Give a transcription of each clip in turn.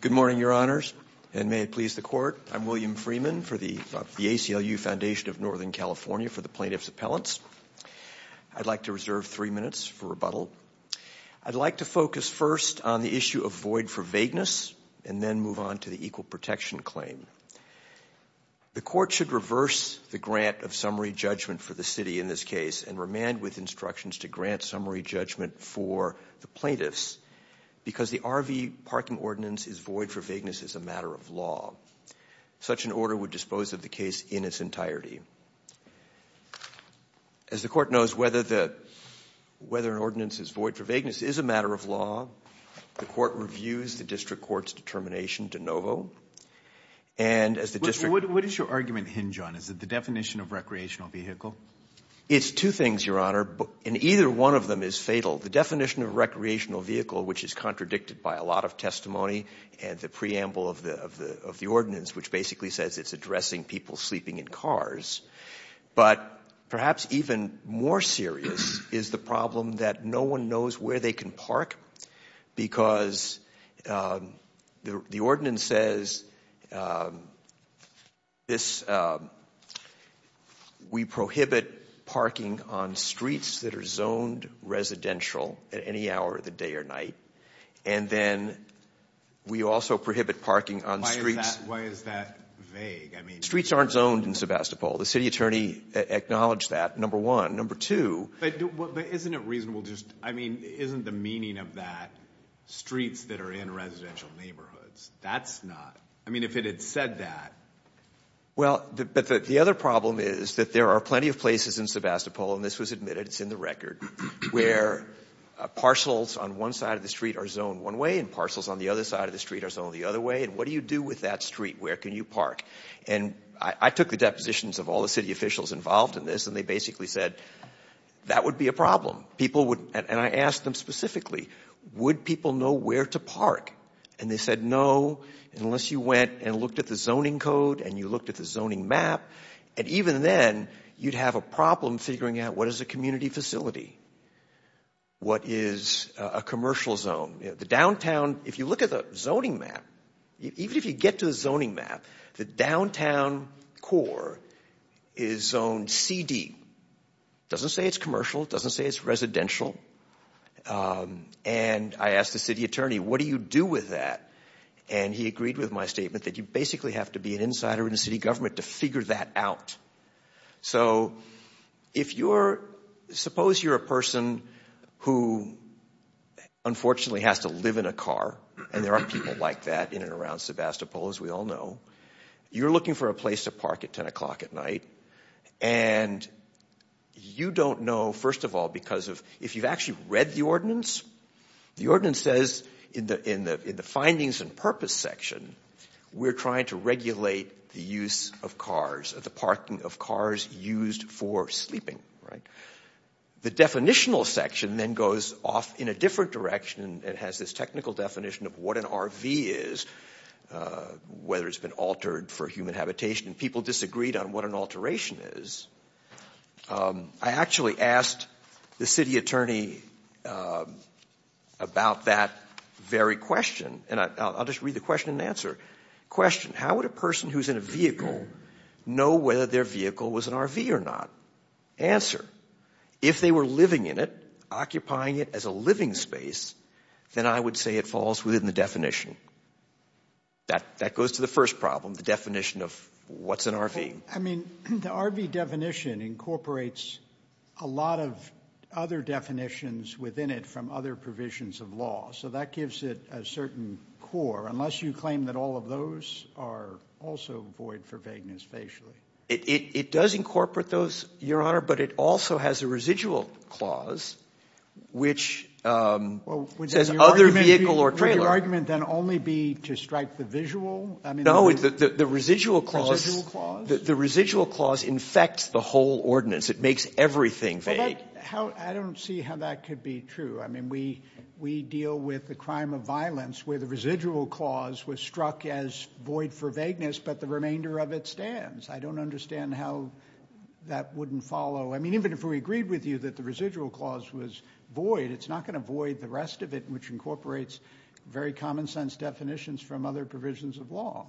Good morning, Your Honors, and may it please the Court. I'm William Freeman of the ACLU Foundation of Northern California for the Plaintiff's Appellants. I'd like to reserve three minutes for rebuttal. I'd like to focus first on the issue of void for vagueness and then move on to the equal protection claim. The Court should reverse the grant of summary judgment for the plaintiffs because the RV parking ordinance is void for vagueness as a matter of law. Such an order would dispose of the case in its entirety. As the Court knows, whether an ordinance is void for vagueness is a matter of law. The Court reviews the District Court's determination de novo. What does your argument hinge on? Is it the definition of recreational vehicle? It's two things, Your Honor, and either one of them is fatal. The definition of recreational vehicle, which is contradicted by a lot of testimony and the preamble of the ordinance, which basically says it's addressing people sleeping in cars. But perhaps even more serious is the problem that no one knows where they can park because the ordinance says we prohibit parking on streets that are zoned residential at any hour of the day or night. And then we also prohibit parking on streets. Why is that vague? Streets aren't zoned in Sebastopol. The City Attorney acknowledged that, number one. Number that are in residential neighborhoods. That's not. I mean, if it had said that. Well, but the other problem is that there are plenty of places in Sebastopol, and this was admitted, it's in the record, where parcels on one side of the street are zoned one way and parcels on the other side of the street are zoned the other way. And what do you do with that street? Where can you park? And I took the depositions of all the city officials involved in this and they basically said that would be a problem. People would, and I asked them specifically, would people know where to park? And they said no, unless you went and looked at the zoning code and you looked at the zoning map. And even then, you'd have a problem figuring out what is a community facility? What is a commercial zone? The downtown, if you look at the zoning map, even if you get to the zoning map, the downtown core is zoned CD. It doesn't say it's commercial. It doesn't say it's residential. And I asked the city attorney, what do you do with that? And he agreed with my statement that you basically have to be an insider in the city government to figure that out. So if you're, suppose you're a person who unfortunately has to live in a car, and there are people like that in and around Sebastopol, as we all know. You're looking for a place to park at 10 o'clock at night, and you don't know, first of all, because if you've actually read the ordinance, the ordinance says in the findings and purpose section, we're trying to regulate the use of cars, the parking of cars used for sleeping. The definitional section then goes off in a different direction and has this technical definition of what an RV is, whether it's been altered for human habitation, and people disagreed on what an alteration is. I actually asked the city attorney about that very question, and I'll just read the question and answer. Question, how would a person who's in a vehicle know whether their vehicle was an RV or not? Answer, if they were living in it, occupying it as a living space, then I would say it falls within the definition. That goes to the first problem, the definition of what's an RV. I mean, the RV definition incorporates a lot of other definitions within it from other provisions of law, so that gives it a certain core, unless you claim that all of those are also void for vagueness facially. It does incorporate those, Your Honor, but it also has a residual clause, which says other vehicle or trailer. Would your argument then only be to strike the visual? No, the residual clause infects the whole ordinance. It makes everything vague. I don't see how that could be true. I mean, we deal with the crime of violence where the residual clause was struck as void for vagueness, but the remainder of it stands. I don't understand how that wouldn't follow. I mean, even if we agreed with you that the residual clause was void, it's not going to void the rest of it, which incorporates very common sense definitions from other provisions of law.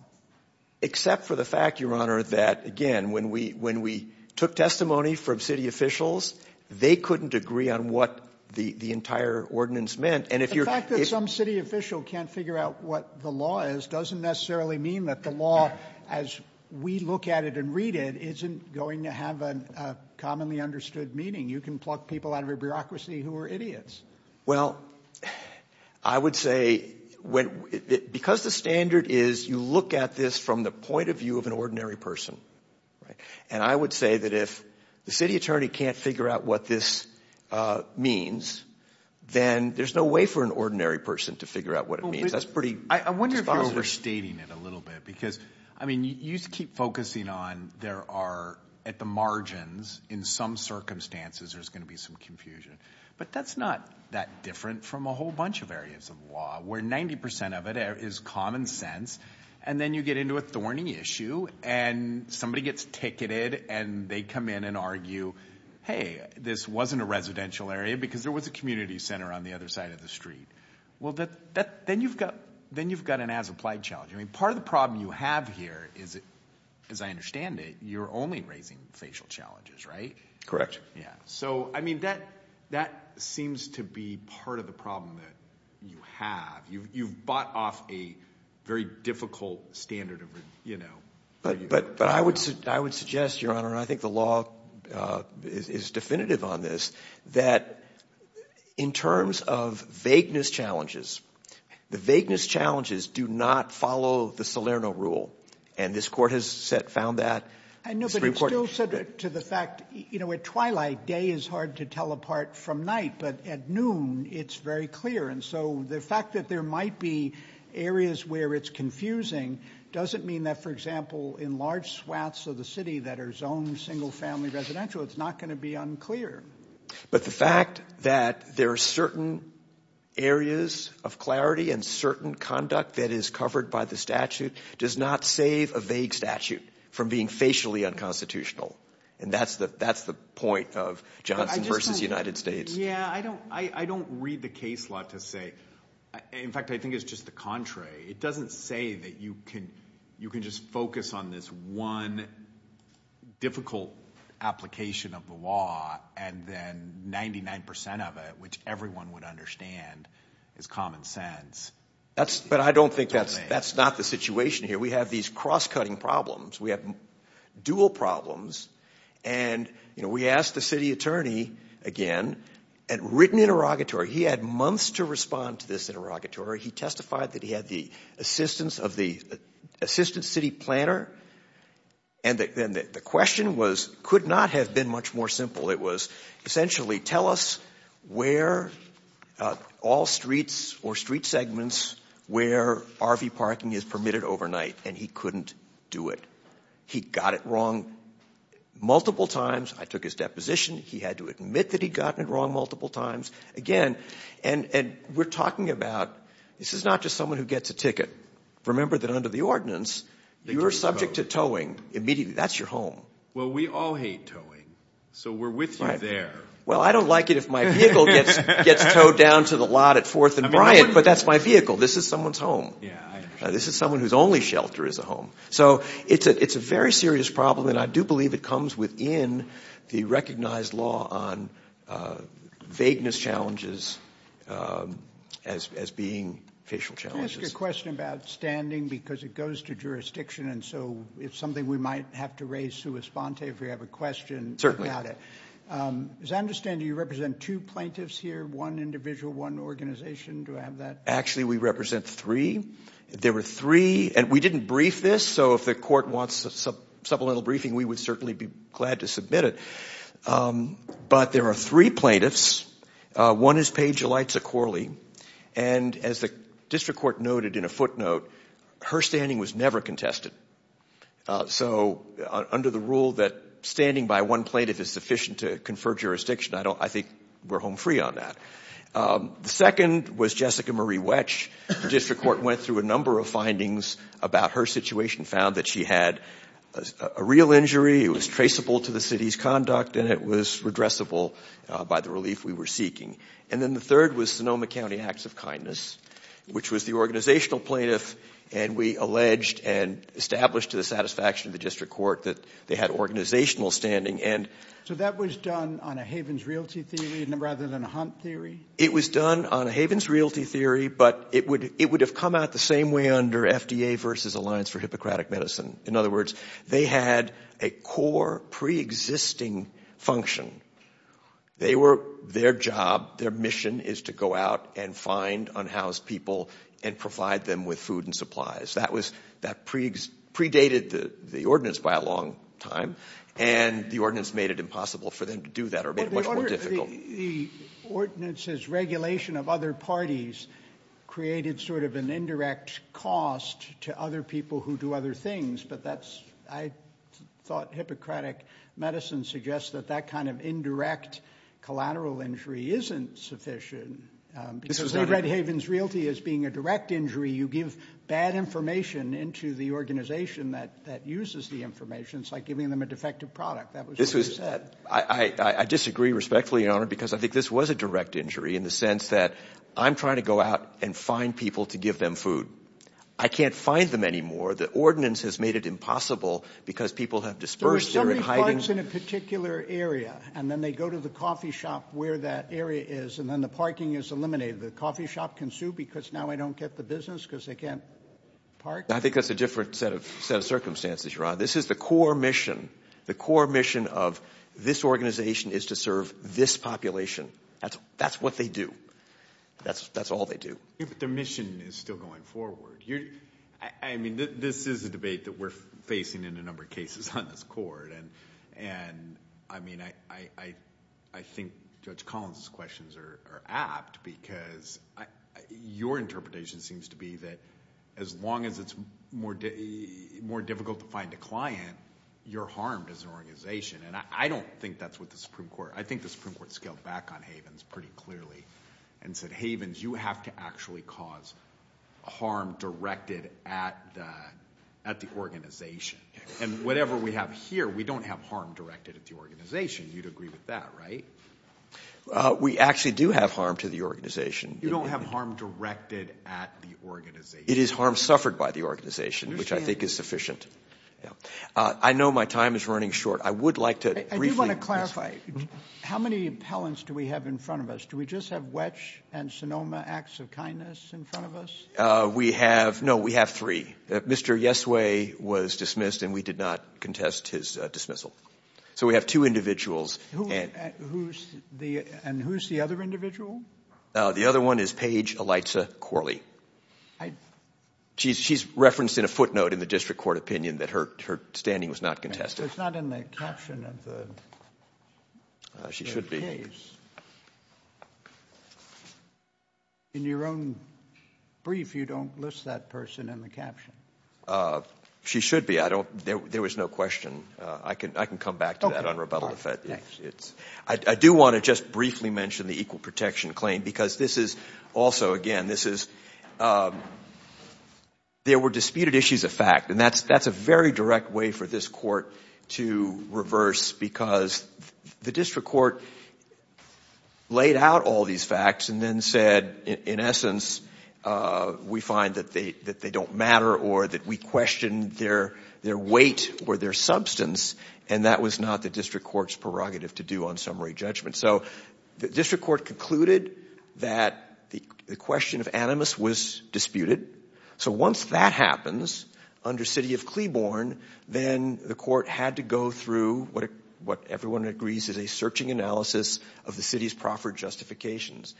Except for the fact, Your Honor, that, again, when we took testimony from city officials, they couldn't agree on what the entire ordinance meant. The fact that some city official can't figure out what the law is doesn't necessarily mean that the law, as we look at it and read it, isn't going to have a commonly understood meaning. You can pluck people out of your bureaucracy who are idiots. Well, I would say, because the standard is you look at this from the point of view of an ordinary person, and I would say that if the city attorney can't figure out what this means, then there's no way for an ordinary person to figure out what it means. I wonder if you're overstating it a little bit, because, I mean, you keep focusing on there are, at the margins, in some circumstances, there's going to be some confusion. But that's not that different from a whole bunch of areas of law, where 90% of it is common sense, and then you get into a thorny issue, and somebody gets ticketed, and they come in and argue, hey, this wasn't a residential area because there was a community center on the other side of the street. Well, then you've got an as-applied challenge. I mean, part of the problem you have here is, as I understand it, you're only raising facial challenges, right? Yeah. So, I mean, that seems to be part of the problem that you have. You've bought off a very difficult standard of, you know... But I would suggest, Your Honor, and I think the law is definitive on this, that in terms of vagueness challenges, the vagueness challenges do not follow the Salerno Rule, and this Court has found that. I know, but it's still subject to the fact, you know, at twilight, day is hard to tell apart from night, but at noon, it's very clear. And so the fact that there might be areas where it's confusing doesn't mean that, for example, in large swaths of the city that are zoned single-family residential, it's not going to be unclear. But the fact that there are certain areas of clarity and certain conduct that is covered by the statute does not save a vague statute from being facially unconstitutional, and that's the point of Johnson v. United States. Yeah, I don't read the case law to say... In fact, I think it's just the contrary. It is. And then 99% of it, which everyone would understand, is common sense. But I don't think that's not the situation here. We have these cross-cutting problems. We have dual problems. And, you know, we asked the city attorney again, at written interrogatory, he had months to respond to this interrogatory. He testified that he had the assistance of the assistant city planner, and then the question was, could not have been much more simple. It was essentially, tell us where all streets or street segments where RV parking is permitted overnight, and he couldn't do it. He got it wrong multiple times. I took his deposition. He had to admit that he'd gotten it wrong multiple times. Again, and we're talking about this is not just someone who gets a ticket. Remember that under the ordinance, you're subject to towing immediately. That's your home. Well, we all hate towing. So we're with you there. Well, I don't like it if my vehicle gets towed down to the lot at 4th and Bryant, but that's my vehicle. This is someone's home. This is someone whose only shelter is a home. So it's a very serious problem, and I do believe it comes within the recognized law on vagueness challenges as being facial challenges. Can I ask a question about standing? Because it goes to jurisdiction, and so it's something we might have to raise sui sponte if we have a question about it. As I understand, you represent two plaintiffs here, one individual, one organization. Do I have that? Actually, we represent three. There were three, and we didn't brief this. So if the court wants a supplemental briefing, we would certainly be glad to submit it. But there are three plaintiffs. One is Paige Yalitza Corley, and as the district court noted in a footnote, her standing was never contested. So under the rule that standing by one plaintiff is sufficient to confer jurisdiction, I think we're home free on that. The second was Jessica Marie Wetsch. The district court went through a number of findings about her situation, found that she had a real injury, it was traceable to the city's conduct, and it was redressable by the relief we were seeking. And then the third was Sonoma County Acts of Kindness, which was the organizational plaintiff, and we alleged and established to the satisfaction of the district court that they had organizational standing. So that was done on a Havens Realty theory rather than a Hunt theory? It was done on a Havens Realty theory, but it would have come out the same way under FDA versus Alliance for Hippocratic Medicine. In other words, they had a core preexisting function. Their job, their mission is to go out and find unhoused people and provide them with food and supplies. That predated the ordinance by a long time, and the ordinance made it impossible for them to do that or made it much more difficult. The ordinance's regulation of other parties created sort of an indirect cost to other people who do other things, but I thought Hippocratic Medicine suggests that that kind of indirect collateral injury isn't sufficient. This was under- Because they read Havens Realty as being a direct injury. You give bad information into the organization that uses the information. It's like giving them a defective product. That was what you said. I disagree respectfully, Your Honor, because I think this was a direct injury in the sense that I'm trying to go out and find people to give them food. I can't find them anymore. The ordinance has made it impossible because people have dispersed, they're in hidings. So there's somebody who parks in a particular area, and then they go to the coffee shop where that area is, and then the parking is eliminated. The coffee shop can sue because now I don't get the business because they can't park? I think that's a different set of circumstances, Your Honor. This is the core mission. The That's all they do. But their mission is still going forward. I mean, this is a debate that we're facing in a number of cases on this court, and I mean, I think Judge Collins' questions are apt because your interpretation seems to be that as long as it's more difficult to find a client, you're harmed as an organization, and I don't think that's what the Supreme Havens, you have to actually cause harm directed at the organization. And whatever we have here, we don't have harm directed at the organization. You'd agree with that, right? We actually do have harm to the organization. You don't have harm directed at the organization. It is harm suffered by the organization, which I think is sufficient. I know my time is running short. I would like to briefly I want to clarify. How many appellants do we have in front of us? Do we just have Wetch and Sonoma Acts of Kindness in front of us? We have, no, we have three. Mr. Yesway was dismissed, and we did not contest his dismissal. So we have two individuals. And who's the other individual? The other one is Paige Eliza Corley. She's referenced in a footnote in the district court opinion that her standing was not contested. She's not in the caption of the case. In your own brief, you don't list that person in the caption. She should be. There was no question. I can come back to that on rebuttal if it's I do want to just briefly mention the equal protection claim, because this is also, again, this is, there were disputed issues of fact, and that's a very direct way for this court to reverse, because the district court laid out all these facts and then said, in essence, we find that they don't matter or that we question their weight or their substance, and that was not the district court's prerogative to do on summary judgment. So the district court concluded that the question of animus was disputed. So once that happens under city of Cleburne, then the court had to go through what everyone agrees is a searching analysis of the city's proffered justifications.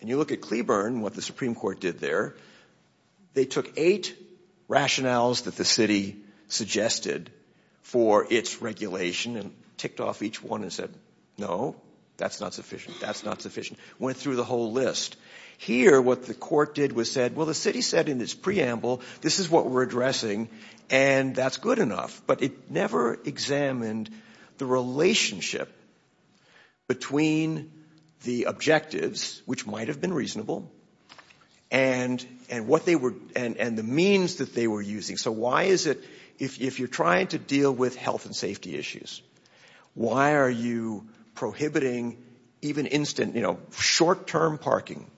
And you look at Cleburne, what the Supreme Court did there, they took eight rationales that the city suggested for its regulation and ticked off each one and said, no, that's not sufficient. That's not sufficient. Went through the whole list. Here, what the court did was said, well, the city said in its preamble, this is what we're addressing, and that's good enough, but it never examined the relationship between the objectives, which might have been reasonable, and the means that they were using. So why is it, if you're trying to deal with health and safety issues, why are you prohibiting even instant, you know, short-term parking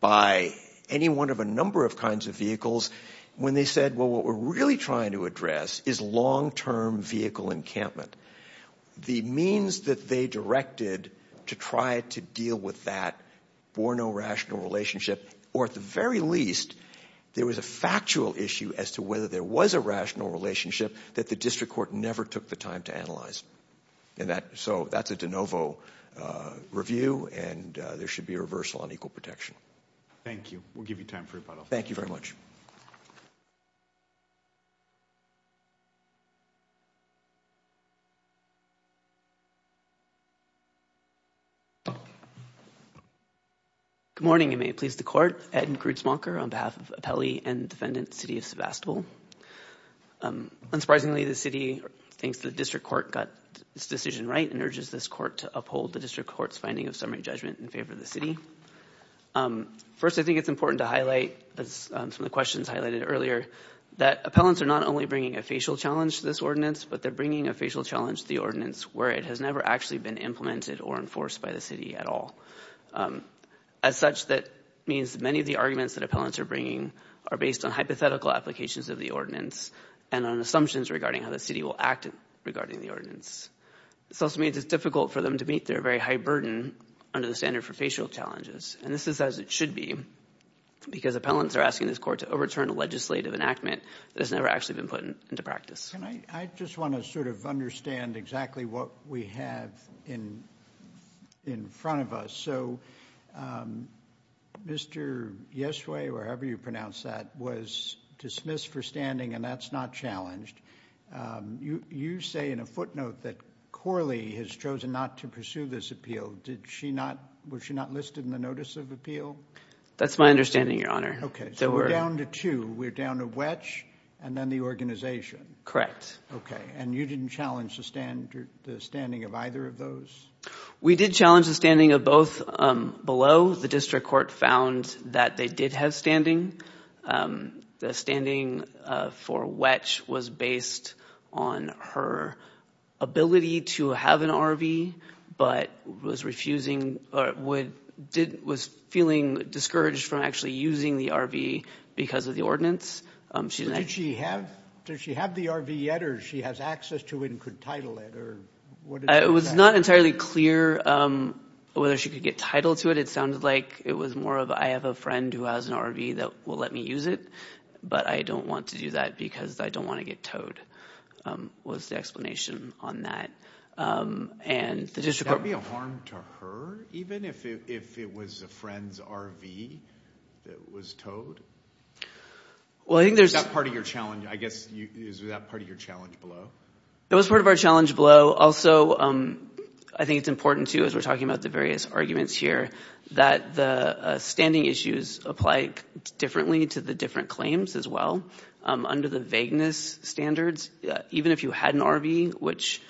by any one of a number of kinds of vehicles, when they said, well, what we're really trying to address is long-term vehicle encampment. The means that they directed to try to deal with that Bourneau rational relationship, or at the very least, there was a factual issue as to whether there was a rational relationship that the district court never took the time to analyze. And that, so that's a de novo review, and there should be a reversal on equal protection. Thank you. We'll give you time for rebuttal. Thank you very much. Good morning, and may it please the court. Ed Grutzmacher on behalf of Appelli and defendant, City of Sebastopol. Unsurprisingly, the city thinks the district court got its decision right and urges this court to uphold the district court's finding of summary judgment in favor of the city. First, I think it's important to highlight, as some of the questions highlighted earlier, that appellants are not only bringing a facial challenge to this ordinance, but they're bringing a facial challenge to the ordinance where it has never actually been implemented or enforced by the city at all. As such, that means many of the arguments that appellants are bringing are based on hypothetical applications of the ordinance and on assumptions regarding how the city will act regarding the ordinance. This also means it's difficult for them to meet their very high burden under the standard for facial challenges. And this is as it should be, because appellants are asking this court to overturn a legislative enactment that has never actually been put into practice. And I just want to sort of understand exactly what we have in front of us. So, Mr. Yesway, wherever you pronounce that, was dismissed for standing, and that's not challenged. You say in a footnote that Corley has chosen not to pursue this appeal. Did she not, was she not listed in the notice of appeal? That's my understanding, Your Honor. Okay, so we're down to two. We're down to Wetch and then the organization. Correct. Okay, and you didn't challenge the standing of either of those? We did challenge the standing of both below. The district court found that they did have standing. The standing for Wetch was based on her ability to have an RV, but was refusing, or was feeling discouraged from actually using the RV because of the ordinance. Did she have the RV yet, or she has access to it and could title it? It was not entirely clear whether she could get title to it. It sounded like it was more of, I have a friend who has an RV that will let me use it, but I don't want to do that because I don't want to get towed, was the explanation on that. And the district court- Would that be a harm to her, even, if it was a friend's RV that was towed? Well, I think there's- Is that part of your challenge? I guess, is that part of your challenge below? It was part of our challenge below. Also, I think it's important, too, as we're talking about the various arguments here, that the standing issues apply differently to the different claims as well. Under the vagueness standards, even if you had an RV, which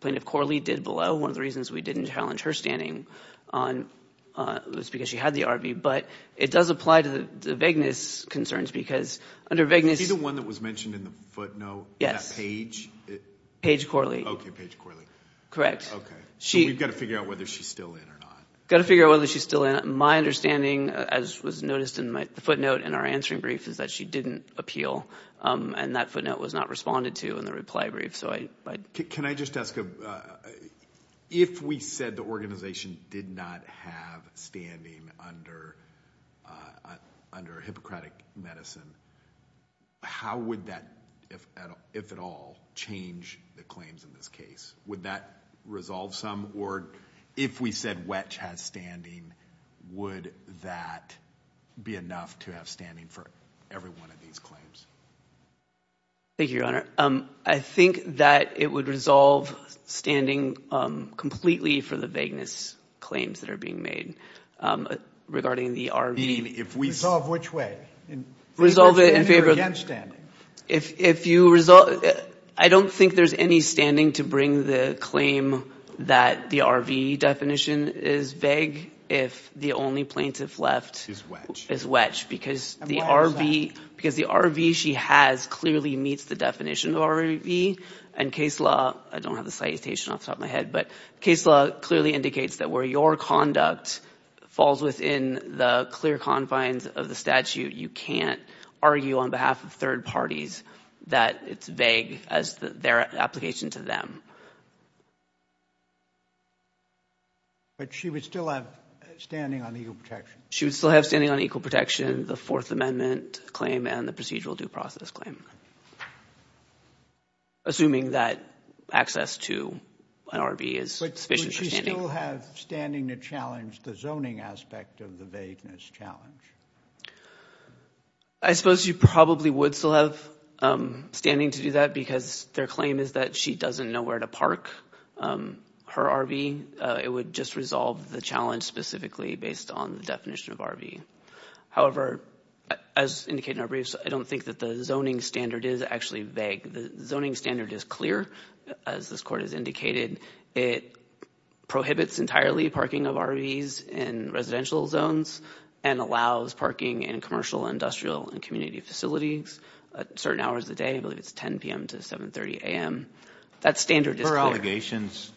Plaintiff Corley did below, one of the reasons we didn't challenge her standing was because she had the RV, but it does apply to the vagueness concerns because under vagueness- Would it be the one that was mentioned in the footnote, that page? Page Corley. Okay, page Corley. Okay. So we've got to figure out whether she's still in or not. Got to figure out whether she's still in. My understanding, as was noticed in the footnote in our answering brief, is that she didn't appeal, and that footnote was not responded to in the reply brief. Can I just ask, if we said the organization did not have standing under Hippocratic Medicine, how would that, if at all, change the claims in this case? Would that resolve some? Or if we said WETCH has standing, would that be enough to have standing for every one of these claims? Thank you, Your Honor. I think that it would resolve standing completely for the vagueness claims that are being made regarding the RV. Resolve which way? Resolve it in favor- Against standing. I don't think there's any standing to bring the claim that the RV definition is vague if the only plaintiff left- Is WETCH, because the RV she has clearly meets the definition of RV, and case law, I don't have the citation off the top of my head, but case law clearly indicates that where your conduct falls within the clear confines of the statute, you can't argue on behalf of third parties that it's vague as their application to them. But she would still have standing on equal protection? She would still have standing on equal protection, the Fourth Amendment claim, and the procedural due process claim. Assuming that access to an RV is sufficient for standing. Would she still have standing to challenge the zoning aspect of the vagueness challenge? I suppose you probably would still have standing to do that because their claim is that she doesn't know where to park her RV. It would just resolve the challenge specifically based on the definition of RV. However, as indicated in our briefs, I don't think that the zoning standard is actually vague. The zoning standard is clear. As this court has indicated, it prohibits entirely parking of RVs in residential zones and allows parking in commercial, industrial, and community facilities at certain hours of the day. I believe it's 10 p.m. to 7.30 a.m. That standard is clear. Her allegations,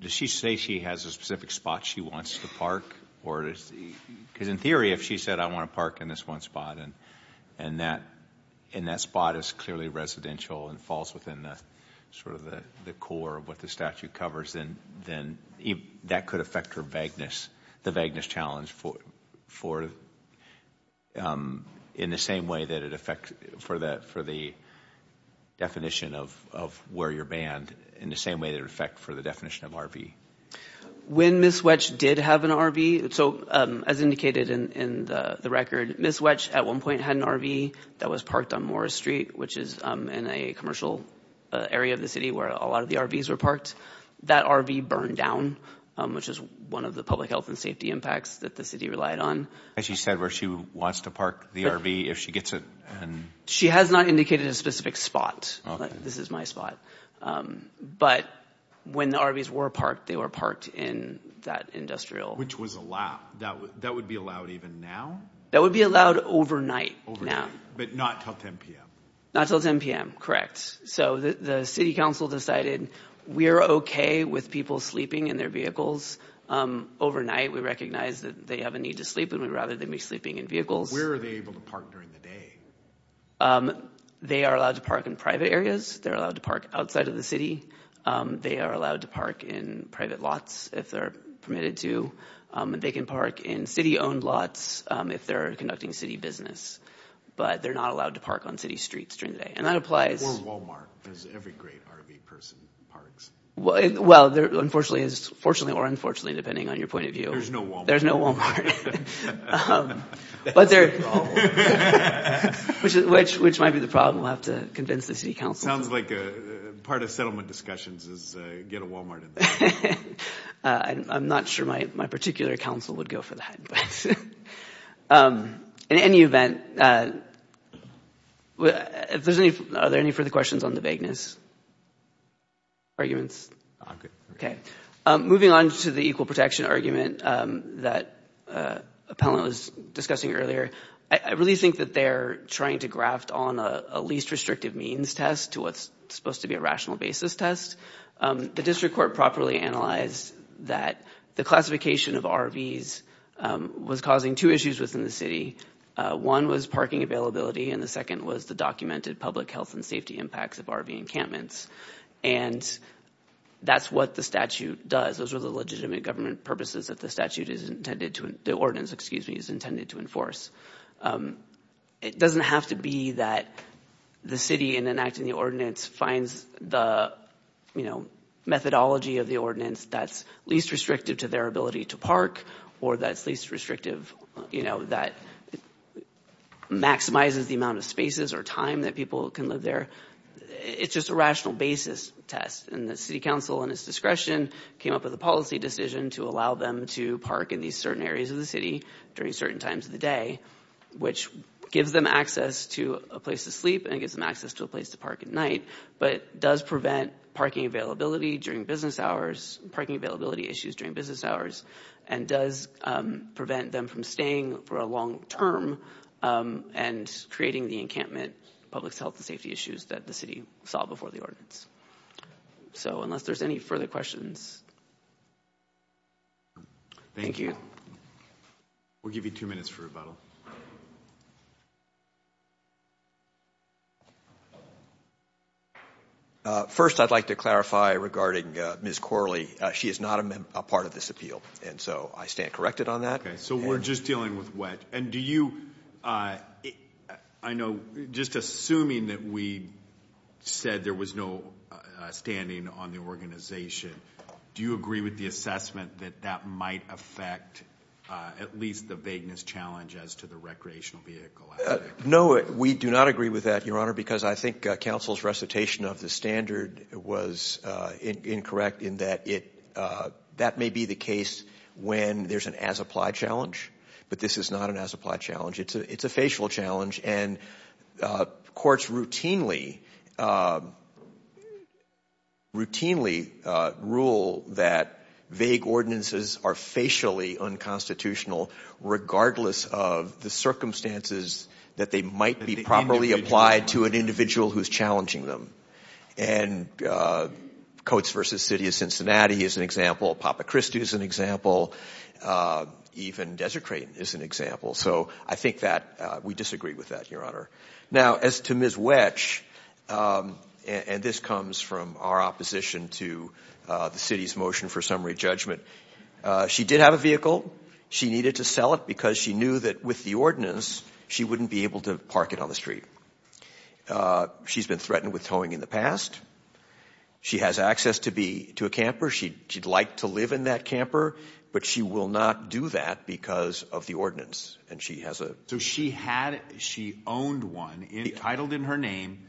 does she say she has a specific spot she wants to park? Because in theory, if she said, I want to park in this one spot and that spot is clearly residential and falls within the core of what the statute covers, then that could affect her vagueness, the vagueness challenge in the same way that it affects for the definition of where you're banned, in the same way that it affects for the definition of RV. When Ms. Wetsch did have an RV, so as indicated in the record, Ms. Wetsch at one point had an RV that was parked on Morris Street, which is in a commercial area of the city where a lot of the RVs were parked. That RV burned down, which is one of the public health and safety impacts that the city relied on. Has she said where she wants to park the RV if she gets it? She has not indicated a specific spot. This is my spot. But when the RVs were parked, they were parked in that industrial. Which was allowed, that would be allowed even now? That would be allowed overnight now. But not till 10 p.m.? Not till 10 p.m., correct. So the city council decided we're okay with people sleeping in their vehicles overnight. We recognize that they have a need to sleep and we'd rather them be sleeping in vehicles. Where are they able to park during the day? They are allowed to park in private areas. They're allowed to park outside of the city. They are allowed to park in private lots if they're permitted to. They can park in city-owned lots if they're conducting city business. But they're not allowed to park on city streets during the day. And that applies... Or Walmart, because every great RV person parks. Well, unfortunately or unfortunately, depending on your point of view. There's no Walmart. There's no Walmart. Which might be the problem. We'll have to convince the city council. Part of settlement discussions is get a Walmart. I'm not sure my particular council would go for that. In any event, are there any further questions on the vagueness arguments? Moving on to the equal protection argument that Appellant was discussing earlier. I really think that they're trying to graft on a least restrictive means test to what's supposed to be a rational basis test. The district court properly analyzed that the classification of RVs was causing two issues within the city. One was parking availability. And the second was the documented public health and safety impacts of RV encampments. And that's what the statute does. Those are the legitimate government purposes that the statute is intended to... The ordinance, excuse me, is intended to enforce. It doesn't have to be that the city, in enacting the ordinance, finds the methodology of the ordinance that's least restrictive to their ability to park or that's least restrictive, you know, that maximizes the amount of spaces or time that people can live there. It's just a rational basis test. And the city council, in its discretion, came up with a policy decision to allow them to park in these certain areas of the city during certain times of the day, which gives them access to a place to sleep and gives them access to a place to park at night, but does prevent parking availability during business hours, parking availability issues during business hours, and does prevent them from staying for a long term and creating the encampment public health and safety issues that the city saw before the ordinance. So unless there's any further questions. Thank you. We'll give you two minutes for rebuttal. First, I'd like to clarify regarding Ms. Corley. She is not a part of this appeal. And so I stand corrected on that. Okay, so we're just dealing with wet. And do you... I know, just assuming that we said there was no standing on the organization, do you agree with the assessment that that might affect at least the vagueness challenge as to the recreational vehicle? No, we do not agree with that, Your Honor, because I think council's recitation of the standard was incorrect in that that may be the case when there's an as-applied challenge. But this is not an as-applied challenge. It's a facial challenge. And courts routinely rule that vague ordinances are facially unconstitutional, regardless of the circumstances that they might be properly applied to an individual who's challenging them. And Coates v. City of Cincinnati is an example. Papa Christi is an example. Even Desert Crate is an example. So I think that we disagree with that, Your Honor. Now, as to Ms. Wetch, and this comes from our opposition to the city's motion for summary judgment, she did have a vehicle. She needed to sell it because she knew that with the ordinance, she wouldn't be able to park it on the street. She's been threatened with towing in the past. She has access to a camper. She'd like to live in that camper, but she will not do that because of the ordinance. So she owned one, entitled in her name.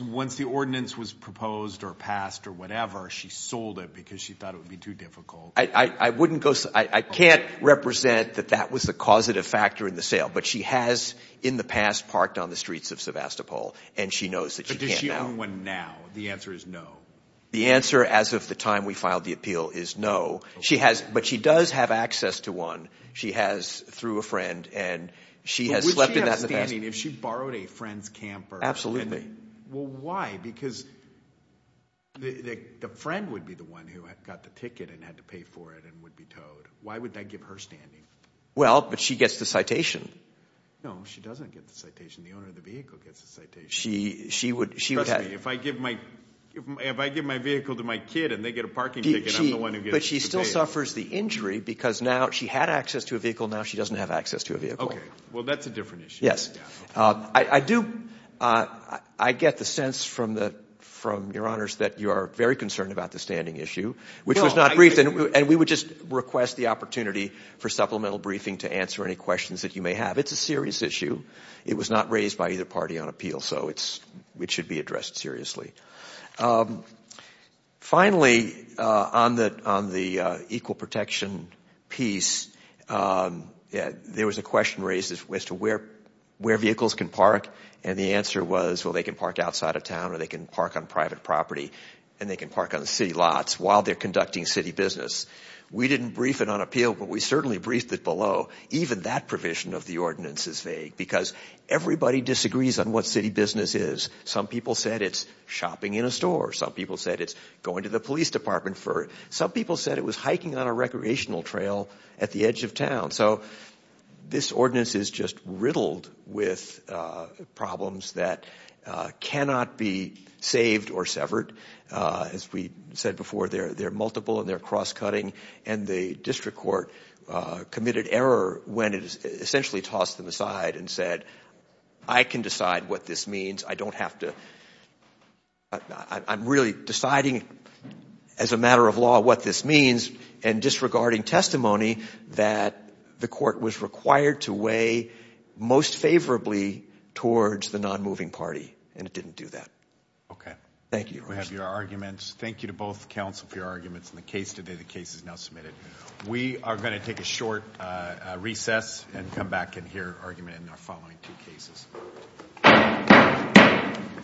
Once the ordinance was proposed or passed or whatever, she sold it because she thought it would be too difficult. I can't represent that that was the causative factor in the sale. But she has, in the past, parked on the streets of Sevastopol. And she knows that she can't now. But does she own one now? The answer is no. The answer, as of the time we filed the appeal, is no. But she does have access to one. She has through a friend. And she has slept in that. Would she have standing if she borrowed a friend's camper? Well, why? Because the friend would be the one who got the ticket and had to pay for it and would be towed. Why would that give her standing? Well, but she gets the citation. No, she doesn't get the citation. The owner of the vehicle gets the citation. She would have. If I give my vehicle to my kid and they get a parking ticket, I'm the one who gets to pay. But she still suffers the injury, because now she had access to a vehicle. Now she doesn't have access to a vehicle. Well, that's a different issue. I get the sense from Your Honors that you are very concerned about the standing issue, which was not briefed. And we would just request the opportunity for supplemental briefing to answer any questions that you may have. It's a serious issue. It was not raised by either party on appeal. So it should be addressed seriously. Finally, on the equal protection piece, there was a question raised as to where vehicles can park. And the answer was, well, they can park outside of town or they can park on private property. And they can park on the city lots while they're conducting city business. We didn't brief it on appeal, but we certainly briefed it below. Even that provision of the ordinance is vague, because everybody disagrees on what city business is. Some people said it's shopping, in a store. Some people said it's going to the police department. Some people said it was hiking on a recreational trail at the edge of town. So this ordinance is just riddled with problems that cannot be saved or severed. As we said before, they're multiple and they're cross-cutting. And the district court committed error when it essentially tossed them aside and said, I can decide what this means. I don't have to, I'm really deciding as a matter of law what this means and disregarding testimony that the court was required to weigh most favorably towards the non-moving party. And it didn't do that. Thank you. We have your arguments. Thank you to both counsel for your arguments in the case today. The case is now submitted. We are going to take a short recess and come back and hear argument in our following two cases. Thank you.